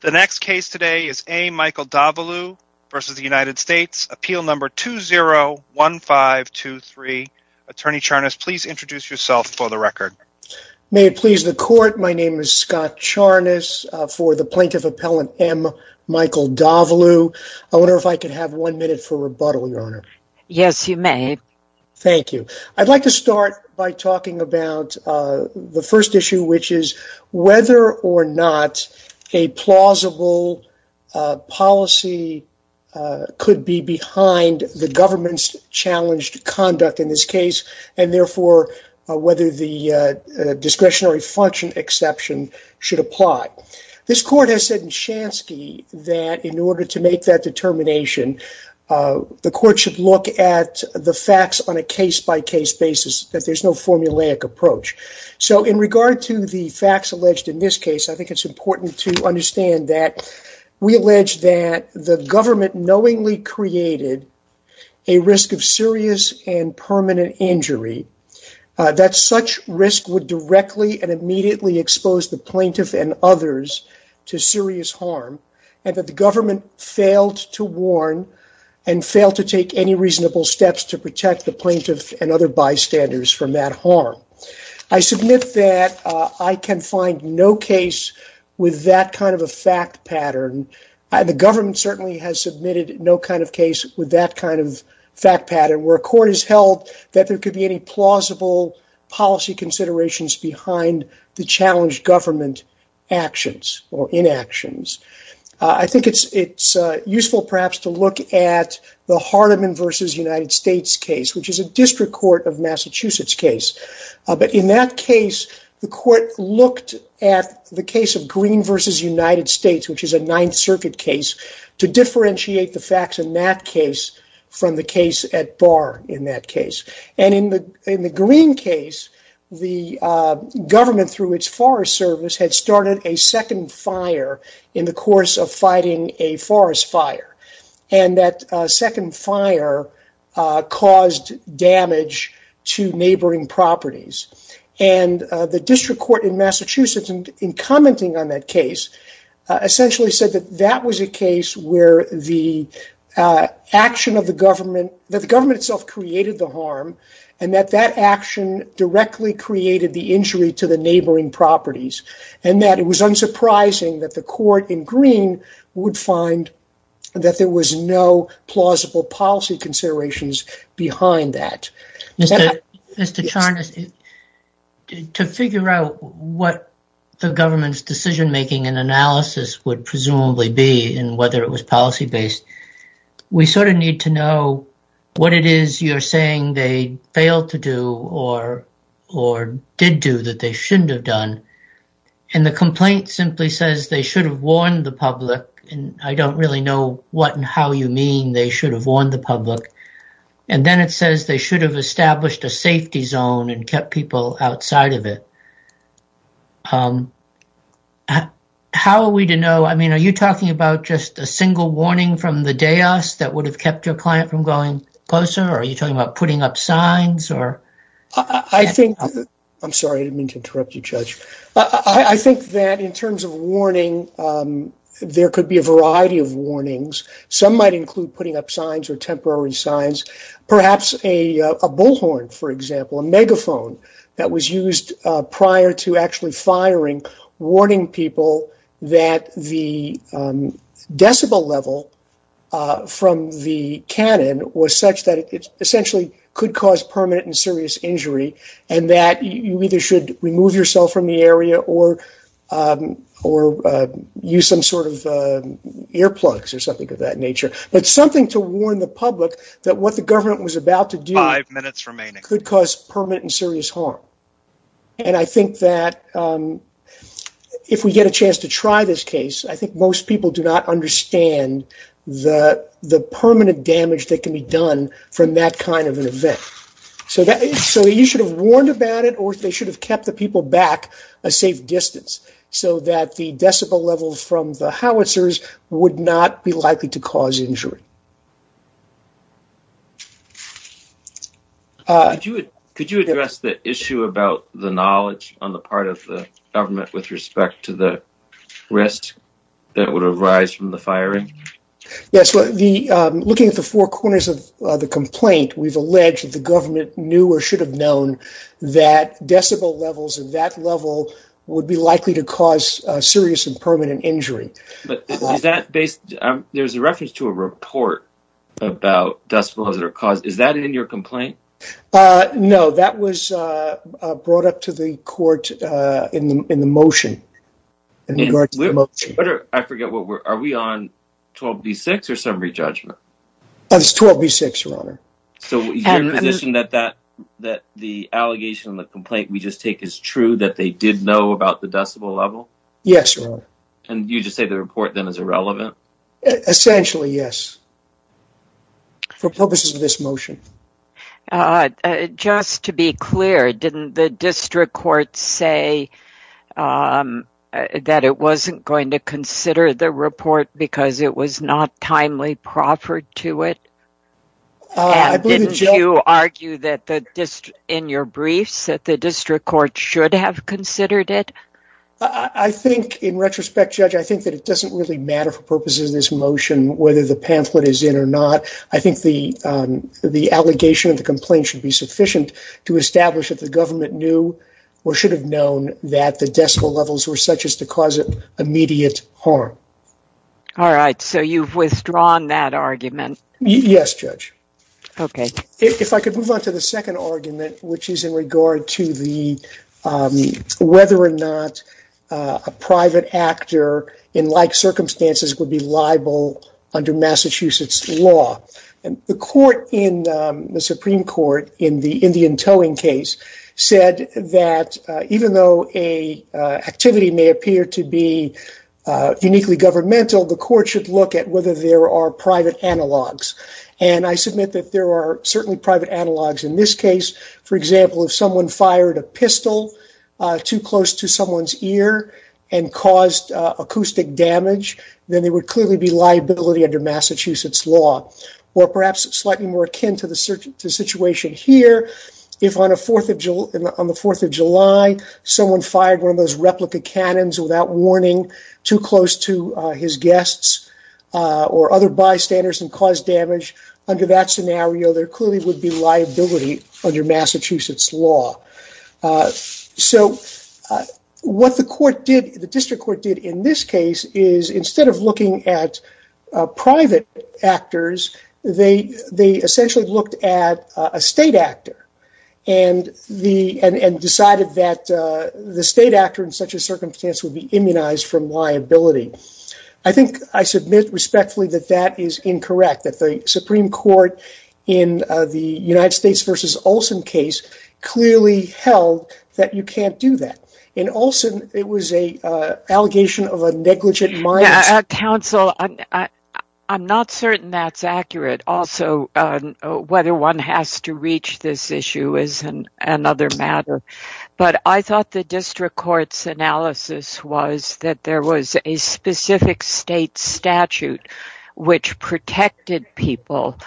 The next case today is A. Michael Davallou v. United States, Appeal No. 201523. Attorney Charnas, please introduce yourself for the record. May it please the Court, my name is Scott Charnas for the Plaintiff Appellant M. Michael Davallou. I wonder if I could have one minute for rebuttal, Your Honor. Yes, you may. Thank you. I'd like to start by talking about the first issue, which is whether or not a plausible policy could be behind the government's challenged conduct in this case, and therefore whether the discretionary function exception should apply. This Court has said in Shansky that in order to make that determination, the Court should look at the facts on a case-by-case basis, that there's no formulaic approach. So in regard to the facts alleged in this case, I think it's important to understand that we allege that the government knowingly created a risk of serious and permanent injury, that such risk would directly and immediately expose the plaintiff and others to serious harm, and that the government failed to warn and failed to take any reasonable steps to protect the plaintiff and other bystanders from that harm. I submit that I can find no case with that kind of a fact pattern, and the government certainly has submitted no kind of case with that kind of fact pattern, where a Court has held that there could be any plausible policy considerations behind the challenged government actions or inactions. I think it's useful, perhaps, to look at the Hardeman v. United States case, which is a District Court of Massachusetts case, but in that case, the Court looked at the case of Green v. United States, which is a Ninth Circuit case, to differentiate the facts in that case from the case at Barr in that case. And in the Green case, the government, through its Forest Service, had started a second fire in the course of fighting a forest fire, and that second fire caused damage to neighboring properties, and the District Court in Massachusetts, in commenting on that case, essentially said that that was a case where the government itself created the harm, and that that action directly created the injury to the neighboring properties, and that it was unsurprising that the Court in Green would find that there was no plausible policy considerations behind that. Mr. Charnas, to figure out what the government's decision-making and analysis would presumably be and whether it was policy-based, we sort of need to know what it is you're saying they failed to do or did do that they shouldn't have done. And the complaint simply says they should have warned the public, and I don't really know what and how you mean they should have warned the public. And then it says they should have established a safety zone and kept people outside of it. How are we to know? I mean, are you talking about just a single warning from the DAOS that would have kept your client from going closer, or are you talking about putting up signs, or? I think, I'm sorry, I didn't mean to interrupt you, Judge. I think that in terms of warning, there could be a variety of warnings. Some might include putting up signs or temporary signs. Perhaps a bullhorn, for example, a megaphone that was used prior to actually firing, warning people that the decibel level from the cannon was such that it essentially could cause permanent and serious injury and that you either should remove yourself from the area or use some sort of earplugs or something of that nature. But something to warn the public that what the government was about to do could cause permanent and serious harm. And I think that if we get a chance to try this case, I think most people do not understand the permanent damage that can be done from that kind of an event. So you should have warned about it, or they should have kept the people back a safe distance so that the decibel levels from the howitzers would not be likely to cause injury. Could you address the issue about the knowledge on the part of the government with respect to the risk that would arise from the firing? Yes, looking at the four corners of the complaint, we've alleged that the government knew or should have known that decibel levels at that level would be likely to cause serious and permanent injury. There's a reference to a report about decibels that are caused. Is that in your complaint? No, that was brought up to the court in the motion. I forget, are we on 12B6 or summary judgment? It's 12B6, Your Honor. So you're in a position that the allegation and the complaint we just take is true, that they did know about the decibel level? Yes, Your Honor. And you just say the report then is irrelevant? Essentially, yes. For purposes of this motion. Just to be clear, didn't the district court say that it wasn't going to consider the report because it was not timely proffered to it? And didn't you argue that in your briefs that the district court should have considered it? I think in retrospect, Judge, I think that it doesn't really matter for purposes of this motion whether the pamphlet is in or not. I think the the allegation of the complaint should be sufficient to establish that the government knew or should have known that the decibel levels were such as to cause immediate harm. All right. So you've withdrawn that argument. Yes, Judge. OK, if I could move on to the second argument, which is in regard to the whether or not a private actor in like circumstances would be liable under Massachusetts law. And the court in the Supreme Court in the Indian towing case said that even though a activity may appear to be uniquely governmental, the court should look at whether there are private analogs. And I submit that there are certainly private analogs in this case. For example, if someone fired a pistol too close to someone's ear and caused acoustic damage, then they would clearly be liability under Massachusetts law or perhaps slightly more akin to the situation here. If on the 4th of July, someone fired one of those replica cannons without warning too close to the ear of the other bystanders and caused damage under that scenario, there clearly would be liability under Massachusetts law. So what the court did, the district court did in this case is instead of looking at private actors, they they essentially looked at a state actor and the and decided that the state actor in such a circumstance would be immunized from liability. I think I submit respectfully that that is incorrect, that the Supreme Court in the United States versus Olson case clearly held that you can't do that. In Olson, it was a allegation of a negligent mind. Counsel, I'm not certain that's accurate. Also, whether one has to reach this issue is another matter. But I thought the district court's analysis was that there was a specific state statute which protected people.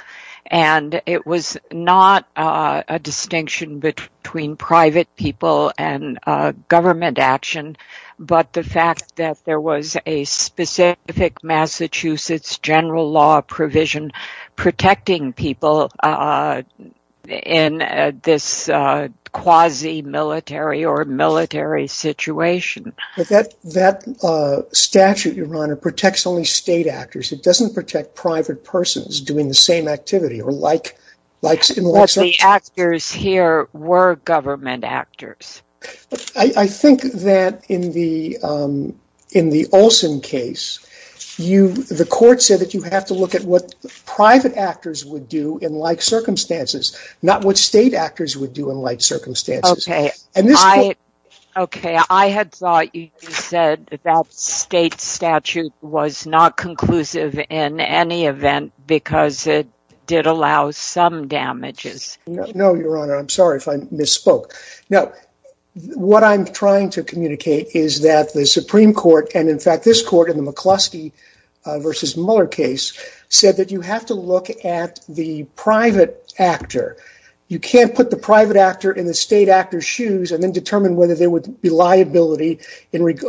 And it was not a distinction between private people and government action. But the fact that there was a specific Massachusetts general law provision protecting people in this quasi military or military situation. But that that statute, Your Honor, protects only state actors. It doesn't protect private persons doing the same activity or like like the actors here were government actors. I think that in the in the Olson case, you the court said that you have to look at what state actors would do in like circumstances, not what state actors would do in like circumstances. OK, OK, I had thought you said that state statute was not conclusive in any event because it did allow some damages. No, Your Honor, I'm sorry if I misspoke. Now, what I'm trying to communicate is that the Supreme Court and in fact, this court in the McCluskey versus Mueller case said that you have to look at the private actor. You can't put the private actor in the state actor's shoes and then determine whether there would be liability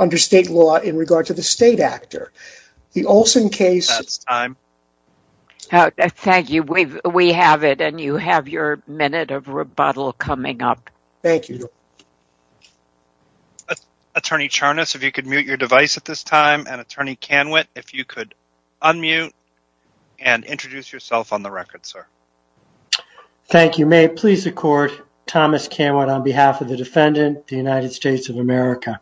under state law in regard to the state actor. The Olson case. That's time. Thank you. We have it. And you have your minute of rebuttal coming up. Thank you. Attorney Charnas, if you could mute your device at this time, and Attorney Canwit, if you could unmute and introduce yourself on the record, sir. Thank you. May it please the court, Thomas Canwit, on behalf of the defendant, the United States of America.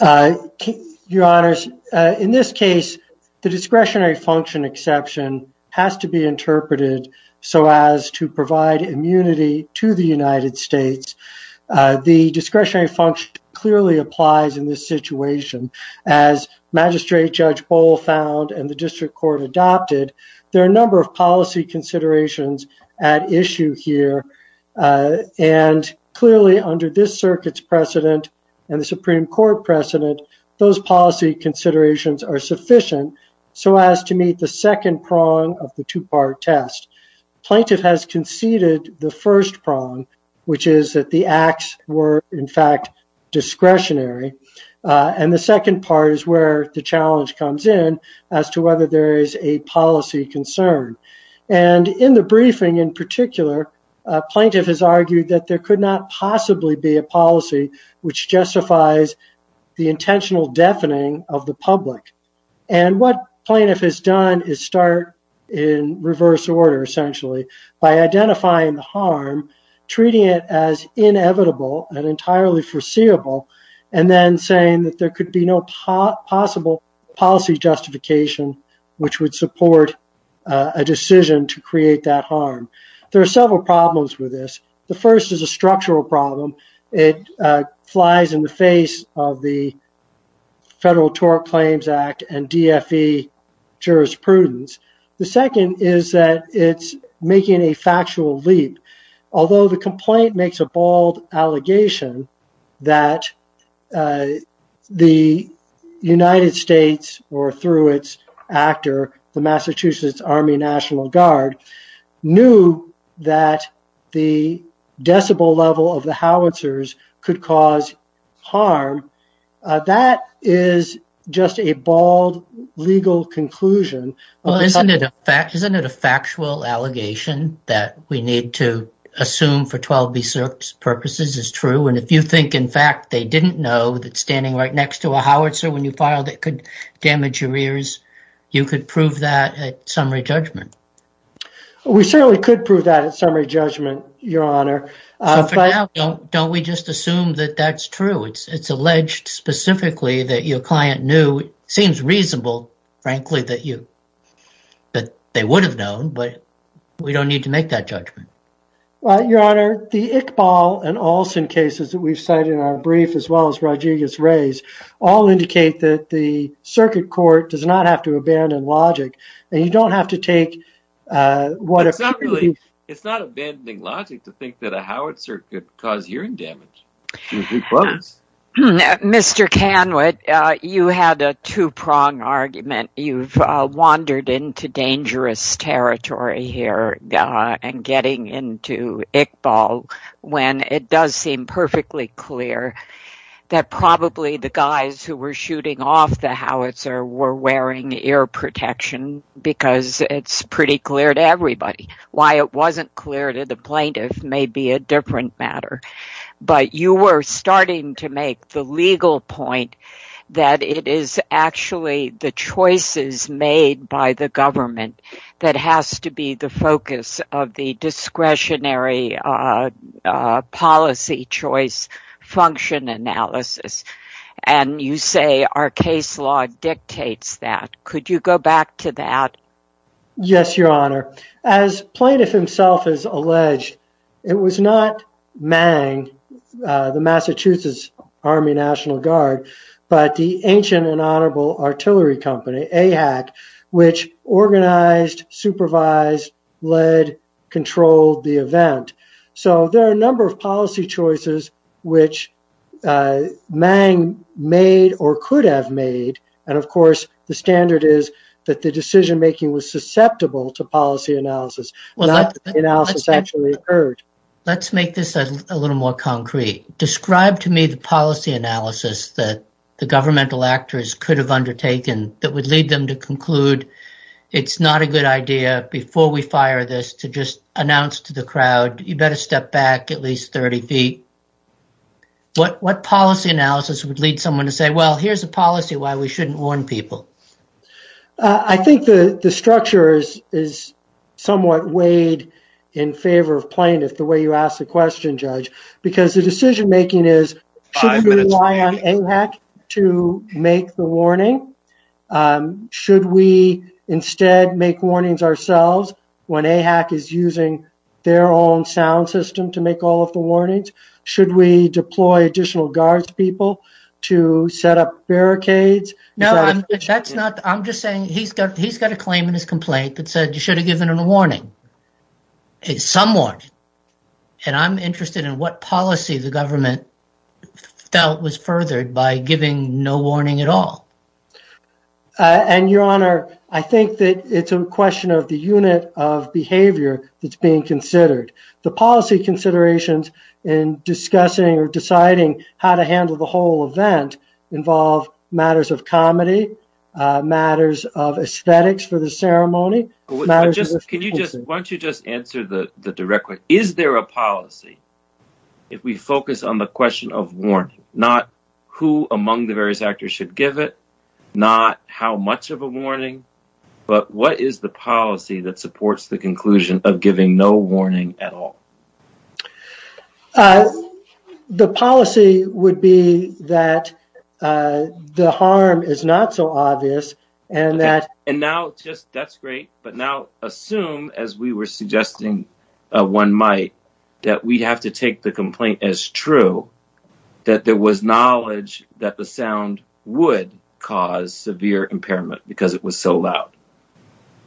Your Honors, in this case, the discretionary function exception has to be interpreted so as to provide immunity to the United States. The discretionary function clearly applies in this situation. As Magistrate Judge Bohl found and the district court adopted, there are a number of policy considerations at issue here. And clearly, under this circuit's precedent and the Supreme Court precedent, those policy considerations are sufficient so as to meet the second prong of the two part test. Plaintiff has conceded the first prong, which is that the acts were, in fact, discretionary. And the second part is where the challenge comes in as to whether there is a policy concern. And in the briefing, in particular, plaintiff has argued that there could not possibly be a policy which justifies the intentional deafening of the public. And what plaintiff has done is start in reverse order, essentially, by identifying the harm, treating it as inevitable and entirely foreseeable, and then saying that there could be no possible policy justification which would support a decision to create that harm. There are several problems with this. The first is a structural problem. It flies in the face of the Federal Tort Claims Act and DFE jurisprudence. The second is that it's making a factual leap. Although the complaint makes a bold allegation that the United States, or through its actor, the Massachusetts Army National Guard, knew that the decibel level of the howitzers could cause harm, that is just a bald legal conclusion. Well, isn't it a factual allegation that we need to assume for 12b6 purposes is true? And if you think, in fact, they didn't know that standing right next to a howitzer when you filed could damage your ears, you could prove that at summary judgment. We certainly could prove that at summary judgment, Your Honor. Don't we just assume that that's true? It's alleged specifically that your client knew, seems reasonable, frankly, that they would have known, but we don't need to make that judgment. Well, Your Honor, the Iqbal and Olson cases that we've cited in our brief, as well as Rodriguez-Reyes, all indicate that the circuit court does not have to abandon logic, and you don't have to take... It's not abandoning logic to think that a howitzer could cause hearing damage. Mr. Kanwit, you had a two-prong argument. You've wandered into dangerous territory here and getting into Iqbal when it does seem perfectly clear that probably the guys who were shooting off the howitzer were wearing ear protection, because it's pretty clear to everybody. Why it wasn't clear to the plaintiff may be a different matter, but you were starting to make the legal point that it is actually the choices made by the government that has to be the focus of the discretionary policy choice function analysis, and you say our case law dictates that. Could you go back to that? Yes, Your Honor. As plaintiff himself has alleged, it was not MANG, the Massachusetts Army National Guard, but the ancient and honorable artillery company, AHAC, which organized, supervised, led, controlled the event. So there are a number of policy choices which MANG made or could have made, and of course the standard is that the decision-making was susceptible to policy analysis. Let's make this a little more concrete. Describe to me the policy analysis that the governmental actors could have undertaken that would lead them to conclude, it's not a good idea before we fire this to just announce to the crowd, you better step back at least 30 feet. What policy analysis would lead someone to say, well, here's a policy why we shouldn't warn people? I think the structure is somewhat weighed in favor of plaintiff the way you asked the question, because the decision-making is, should we rely on AHAC to make the warning? Should we instead make warnings ourselves when AHAC is using their own sound system to make all of the warnings? Should we deploy additional guards people to set up barricades? I'm just saying he's got a claim in his complaint that said you should have given him a warning. It's somewhat, and I'm interested in what policy the government felt was furthered by giving no warning at all. And your honor, I think that it's a question of the unit of behavior that's being considered. The policy considerations in discussing or deciding how to handle the whole event involve matters of comedy, matters of aesthetics for the ceremony. Can you just, why don't you just answer the direct question? Is there a policy, if we focus on the question of warning, not who among the various actors should give it, not how much of a warning, but what is the policy that supports the conclusion of giving no warning at all? The policy would be that the harm is not so obvious. And that. And now just, that's great. But now assume, as we were suggesting one might, that we'd have to take the complaint as true, that there was knowledge that the sound would cause severe impairment because it was so loud.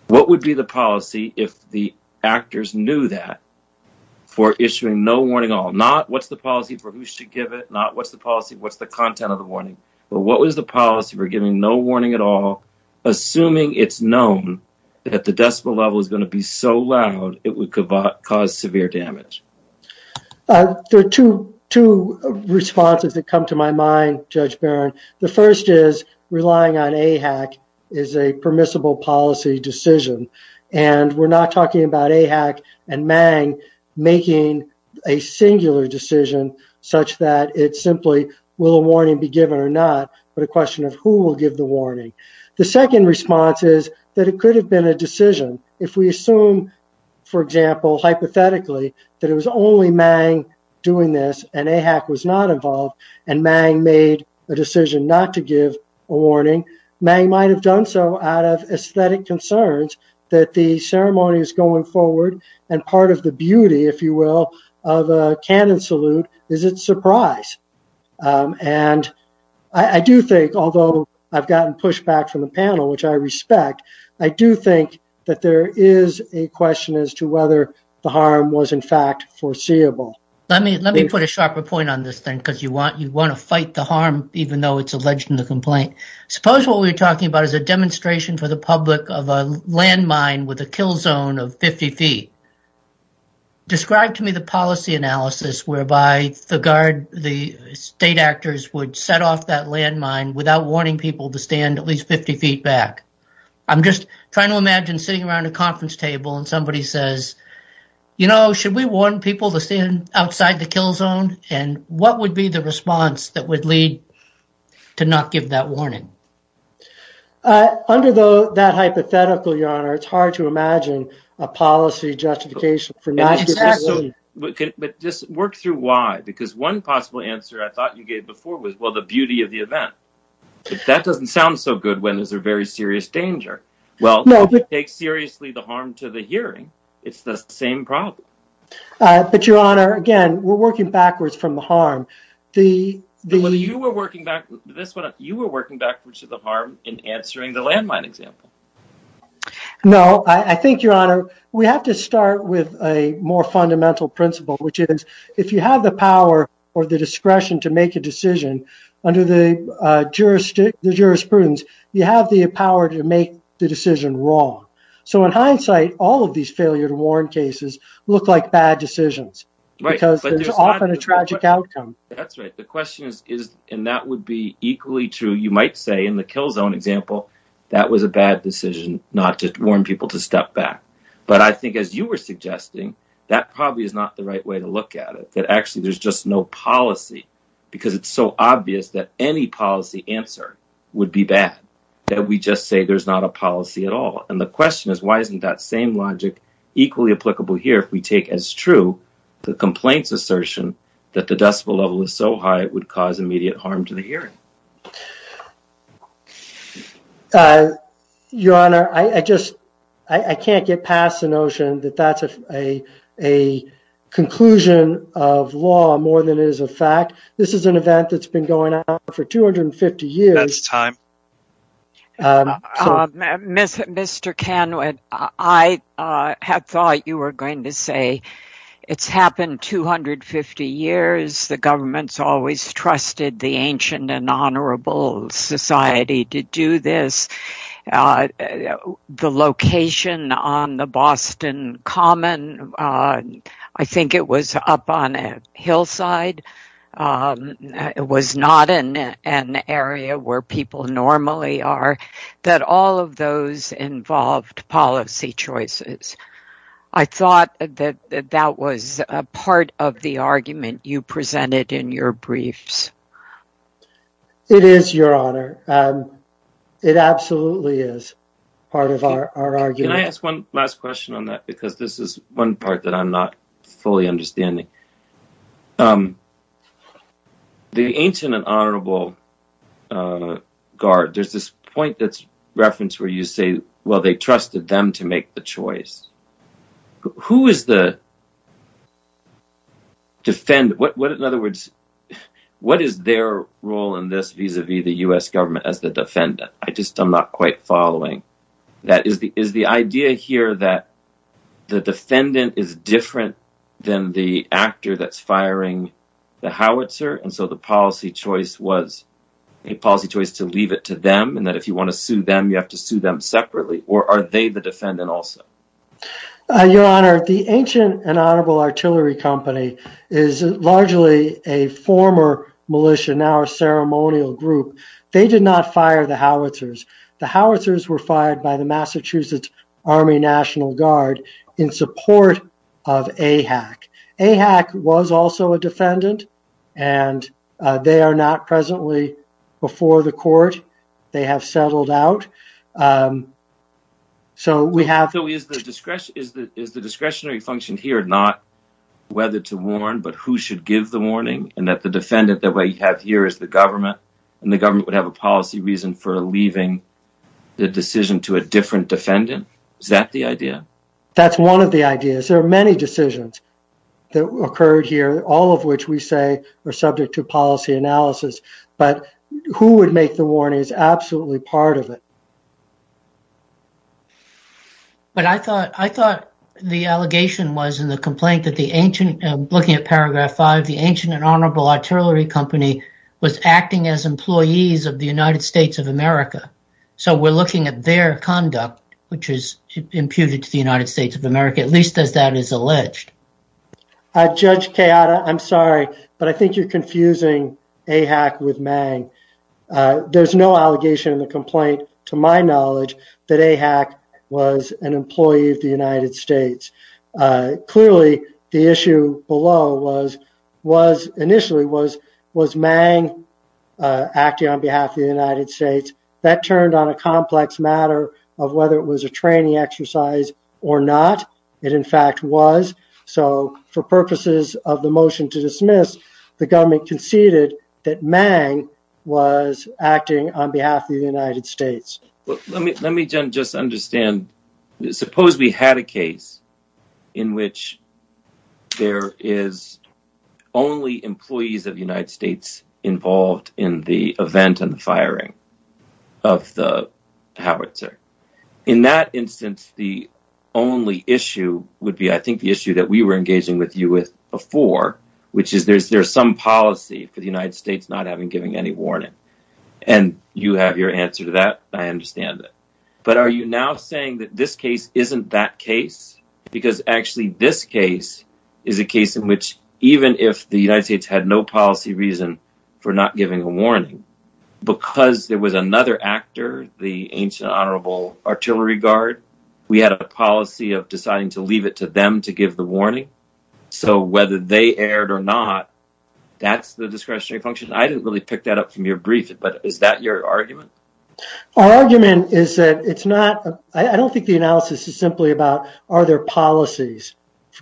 What would be the policy if the actors knew that for issuing no warning at all, not what's the policy for who should give it, not what's the policy, what's the content of the warning, but what was the policy for giving no warning at all assuming it's known that the decibel level is going to be so loud it would cause severe damage? There are two responses that come to my mind, Judge Barron. The first is relying on AHAC is a permissible policy decision. And we're not talking about AHAC and MANG making a singular decision such that it's simply will a warning be given or not, but a question of who will give the warning. The second response is that it could have been a decision if we assume, for example, hypothetically that it was only MANG doing this and AHAC was not involved and MANG made a decision not to give a warning. MANG might have done so out of aesthetic concerns that the ceremony is going forward and part of the beauty, if you will, of a canon salute is its surprise. And I do think, although I've gotten pushback from the panel, which I respect, I do think that there is a question as to whether the harm was in fact foreseeable. Let me put a sharper point on this thing because you want to fight the harm, even though it's alleged in the complaint. Suppose what we're talking about is a demonstration for the public of a landmine with a kill zone of 50 feet. Describe to me the policy analysis whereby the state actors would set off that landmine without warning people to stand at least 50 feet back. I'm just trying to imagine sitting around a conference table and somebody says, you know, should we warn people to stand outside the kill zone? And what would be the response that would lead to not give that warning? Under that hypothetical, Your Honor, it's hard to imagine a policy just justification for not giving the warning. But just work through why, because one possible answer I thought you gave before was, well, the beauty of the event. If that doesn't sound so good, when is there very serious danger? Well, if you take seriously the harm to the hearing, it's the same problem. But Your Honor, again, we're working backwards from the harm. You were working backwards to the harm in answering the landmine example. No, I think, Your Honor, we have to start with a more fundamental principle, which is if you have the power or the discretion to make a decision under the jurisprudence, you have the power to make the decision wrong. So in hindsight, all of these failure to warn cases look like bad decisions. Right. Because it's often a tragic outcome. That's right. The question is, and that would be equally true, you might say in the kill zone example, that was a bad decision not to warn people to step back. But I think, as you were suggesting, that probably is not the right way to look at it, that actually there's just no policy, because it's so obvious that any policy answer would be bad, that we just say there's not a policy at all. And the question is, why isn't that same logic equally applicable here if we take as true the complaint's assertion that the decibel level is so high it would cause immediate harm to the hearing? Your Honor, I can't get past the notion that that's a conclusion of law more than it is a fact. This is an event that's been going on for 250 years. That's time. Mr. Kenwood, I had thought you were going to say, it's happened 250 years, the government's always trusted the ancient and honorable society to do this. The location on the Boston Common, I think it was up on a hillside, it was not in an area where people normally are, that all of those involved policy choices. I thought that that was a part of the argument you presented in your briefs. It is, Your Honor. It absolutely is part of our argument. Can I ask one last question on that? Because this is one part that I'm not fully understanding. The ancient and honorable guard, there's this point that's referenced where you say, well, they trusted them to make the choice. Who is the defendant? In other words, what is their role in this vis-a-vis the U.S. government as the defendant? I'm not quite following. Is the idea here that the defendant is different than the actor that's firing the howitzer? The policy choice was a policy choice to leave it to them, and that if you want to sue them, you have to sue them separately, or are they the defendant also? Your Honor, the ancient and honorable artillery company is largely a former militia, now a ceremonial group. They did not fire the howitzers. The howitzers were fired by the Massachusetts Army National Guard in support of AHAC. AHAC was also a defendant, and they are not presently before the court. They have settled out. Is the discretionary function here not whether to warn, but who should give the warning, and that the defendant that we have here is the government, and the government would have a policy reason for leaving the decision to a different defendant? Is that the idea? That's one of the ideas. There are many decisions that occurred here, all of which we say are subject to policy analysis, but who would make the warning is absolutely part of it. But I thought the allegation was in the complaint that the ancient, looking at paragraph five, the ancient and honorable artillery company was acting as employees of the United States of America, so we're looking at their conduct, which is imputed to the United States. I'm sorry, but I think you're confusing AHAC with Mang. There's no allegation in the complaint, to my knowledge, that AHAC was an employee of the United States. Clearly, the issue below was, initially, was Mang acting on behalf of the United States. That turned on a complex matter of whether it was a training exercise or not. It, in fact, was. So, for purposes of the motion to dismiss, the government conceded that Mang was acting on behalf of the United States. Well, let me just understand. Suppose we had a case in which there is only employees of the howitzer. In that instance, the only issue would be, I think, the issue that we were engaging with you with before, which is there's some policy for the United States not having given any warning, and you have your answer to that. I understand that. But are you now saying that this case isn't that case? Because, actually, this case is a case in which, even if the United States had no policy reason for not giving a warning, because there was another actor, the ancient honorable artillery guard, we had a policy of deciding to leave it to them to give the warning. So, whether they erred or not, that's the discretionary function. I didn't really pick that up from your brief, but is that your argument? Our argument is that it's not. I don't think the analysis is simply about are there policies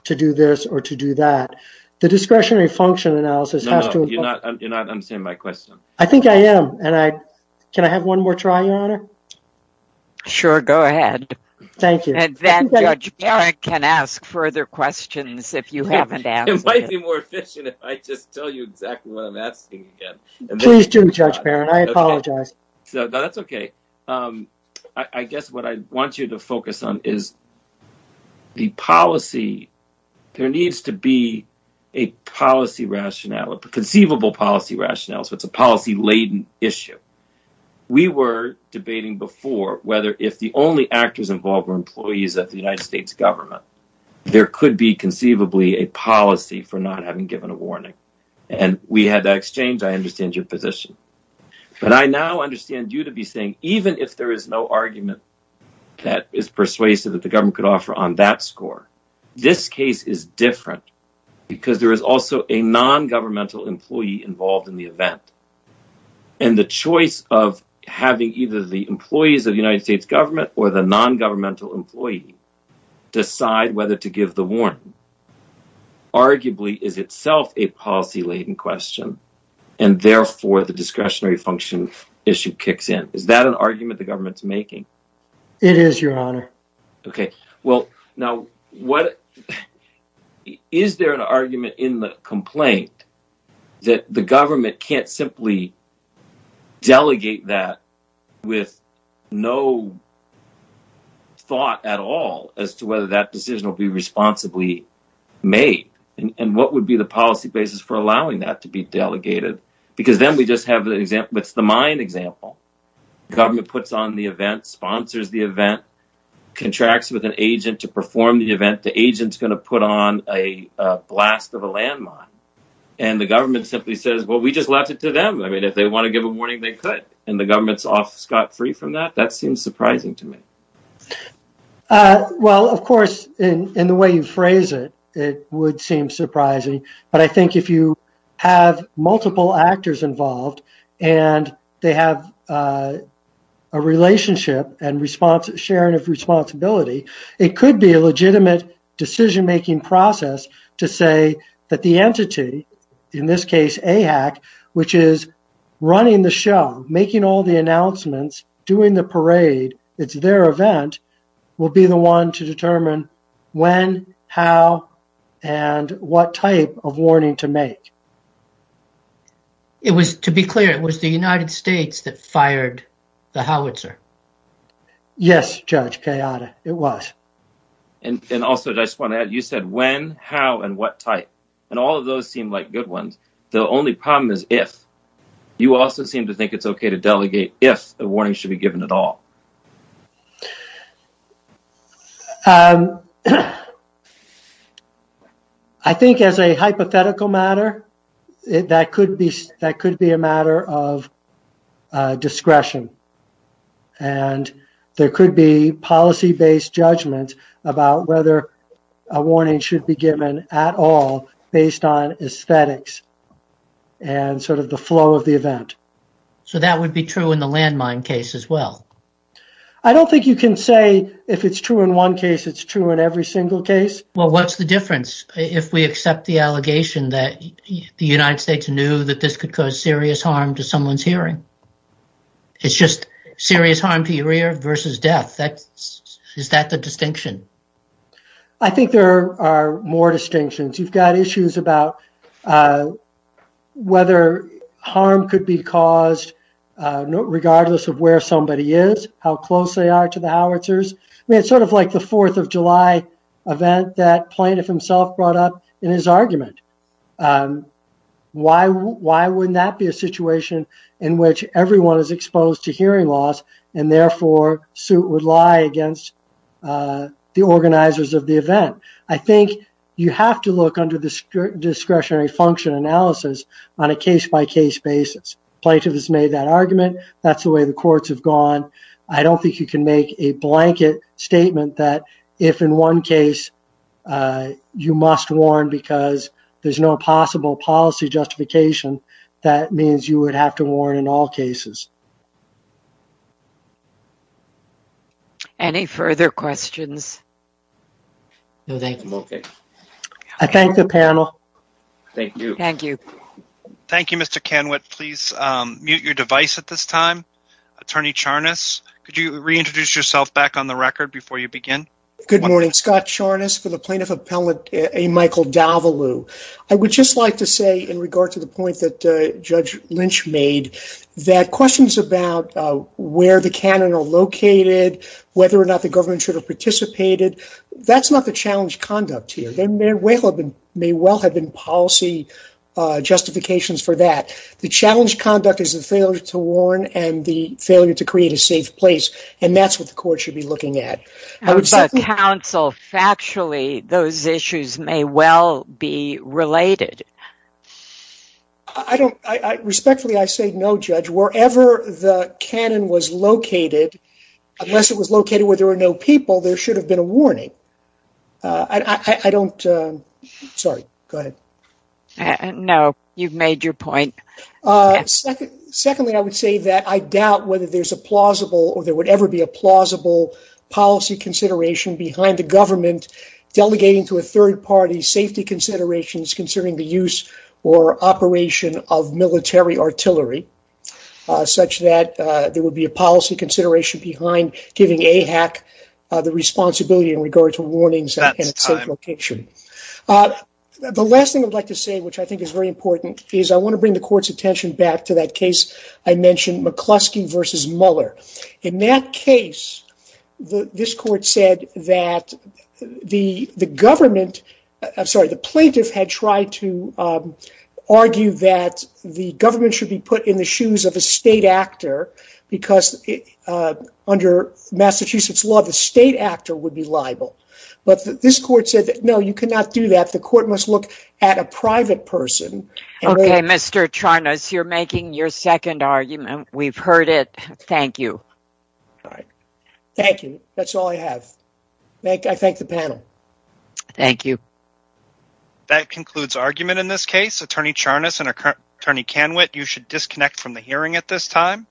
to do this or to do that. The discretionary function analysis has to... No, no. You're not understanding my question. I think I am. Can I have one more try, Your Honor? Sure. Go ahead. Thank you. And then Judge Barrett can ask further questions if you haven't answered. It might be more efficient if I just tell you exactly what I'm asking again. Please do, Judge Barrett. I apologize. That's okay. I guess what I want you to focus on is the policy. There needs to be a policy rationale, a conceivable policy rationale, so it's a policy-laden issue. We were debating before whether if the only actors involved were employees of the United States government, there could be conceivably a policy for not having given a warning. And we had that exchange. I understand your position. But I now understand you to be saying even if there is no argument that is persuasive that the government could offer on that score, this case is different because there is also a non-governmental employee involved in the event. And the choice of having either the employees of the United States government or the non-governmental employee decide whether to give the warning arguably is itself a policy-laden question, and therefore the discretionary function issue kicks in. Is that an argument the government's making? It is, Your Honor. Okay. Well, now, is there an argument in the complaint that the government can't simply delegate that with no thought at all as to whether that decision will be responsibly made? And what would be the policy basis for allowing that to be delegated? Because then we just have an example. It's the mine example. The government puts on the event, sponsors the event, contracts with an agent to perform the event. The agent's going to put on a blast of a landmine. And the government simply says, well, we just left it to them. I mean, they want to give a warning, they could. And the government's off scot-free from that. That seems surprising to me. Well, of course, in the way you phrase it, it would seem surprising. But I think if you have multiple actors involved and they have a relationship and sharing of responsibility, it could be a legitimate decision-making process to say that the entity, in this case AHAC, which is running the show, making all the announcements, doing the parade, it's their event, will be the one to determine when, how, and what type of warning to make. It was, to be clear, it was the United States that fired the howitzer. Yes, Judge Kayada, it was. And also, I just want to add, you said when, how, and what type. And all of those seem like if. You also seem to think it's okay to delegate if a warning should be given at all. I think as a hypothetical matter, that could be a matter of discretion. And there could be policy-based judgment about whether a warning should be given at all based on aesthetics. And sort of the flow of the event. So that would be true in the landmine case as well? I don't think you can say if it's true in one case, it's true in every single case. Well, what's the difference if we accept the allegation that the United States knew that this could cause serious harm to someone's hearing? It's just serious harm to your ear versus death. Is that the distinction? I think there are more distinctions. You've got issues about whether harm could be caused regardless of where somebody is, how close they are to the howitzers. It's sort of like the 4th of July event that Plaintiff himself brought up in his argument. Why wouldn't that be a situation in which everyone is exposed to hearing loss and therefore suit would lie against the organizers of the event? I think you have to look under the discretionary function analysis on a case-by-case basis. Plaintiff has made that argument. That's the way the courts have gone. I don't think you can make a blanket statement that if in one case you must warn because there's no possible policy justification, that means you would have to warn in all cases. Any further questions? No, thank you. I thank the panel. Thank you. Thank you. Thank you, Mr. Kanwit. Please mute your device at this time. Attorney Charnas, could you reintroduce yourself back on the record before you begin? Good morning. Scott Charnas for the Plaintiff Appellant A. Michael D'Avolu. I would just like to say in regard to the point that Judge Lynch made that questions about where the cannon are located, whether or not the government should have participated, that's not the challenge conduct here. There may well have been policy justifications for that. The challenge conduct is the failure to warn and the failure to create a safe place, and that's what the court should be counsel. Factually, those issues may well be related. Respectfully, I say no, Judge. Wherever the cannon was located, unless it was located where there were no people, there should have been a warning. I don't... Sorry, go ahead. No, you've made your point. Secondly, I would say that I doubt whether there's a plausible or there would ever be a plausible policy consideration behind the government delegating to a third party safety considerations considering the use or operation of military artillery, such that there would be a policy consideration behind giving AHAC the responsibility in regard to warnings in a safe location. The last thing I'd like to say, which I think is very important, is I want to bring the court's Mueller. In that case, this court said that the government... I'm sorry, the plaintiff had tried to argue that the government should be put in the shoes of a state actor because under Massachusetts law, the state actor would be liable. But this court said that, no, you cannot do that. The court must look at a private person. Okay, Mr. Charnas, you're making your argument. We've heard it. Thank you. All right. Thank you. That's all I have. I thank the panel. Thank you. That concludes argument in this case. Attorney Charnas and Attorney Kanwit, you should disconnect from the hearing at this time.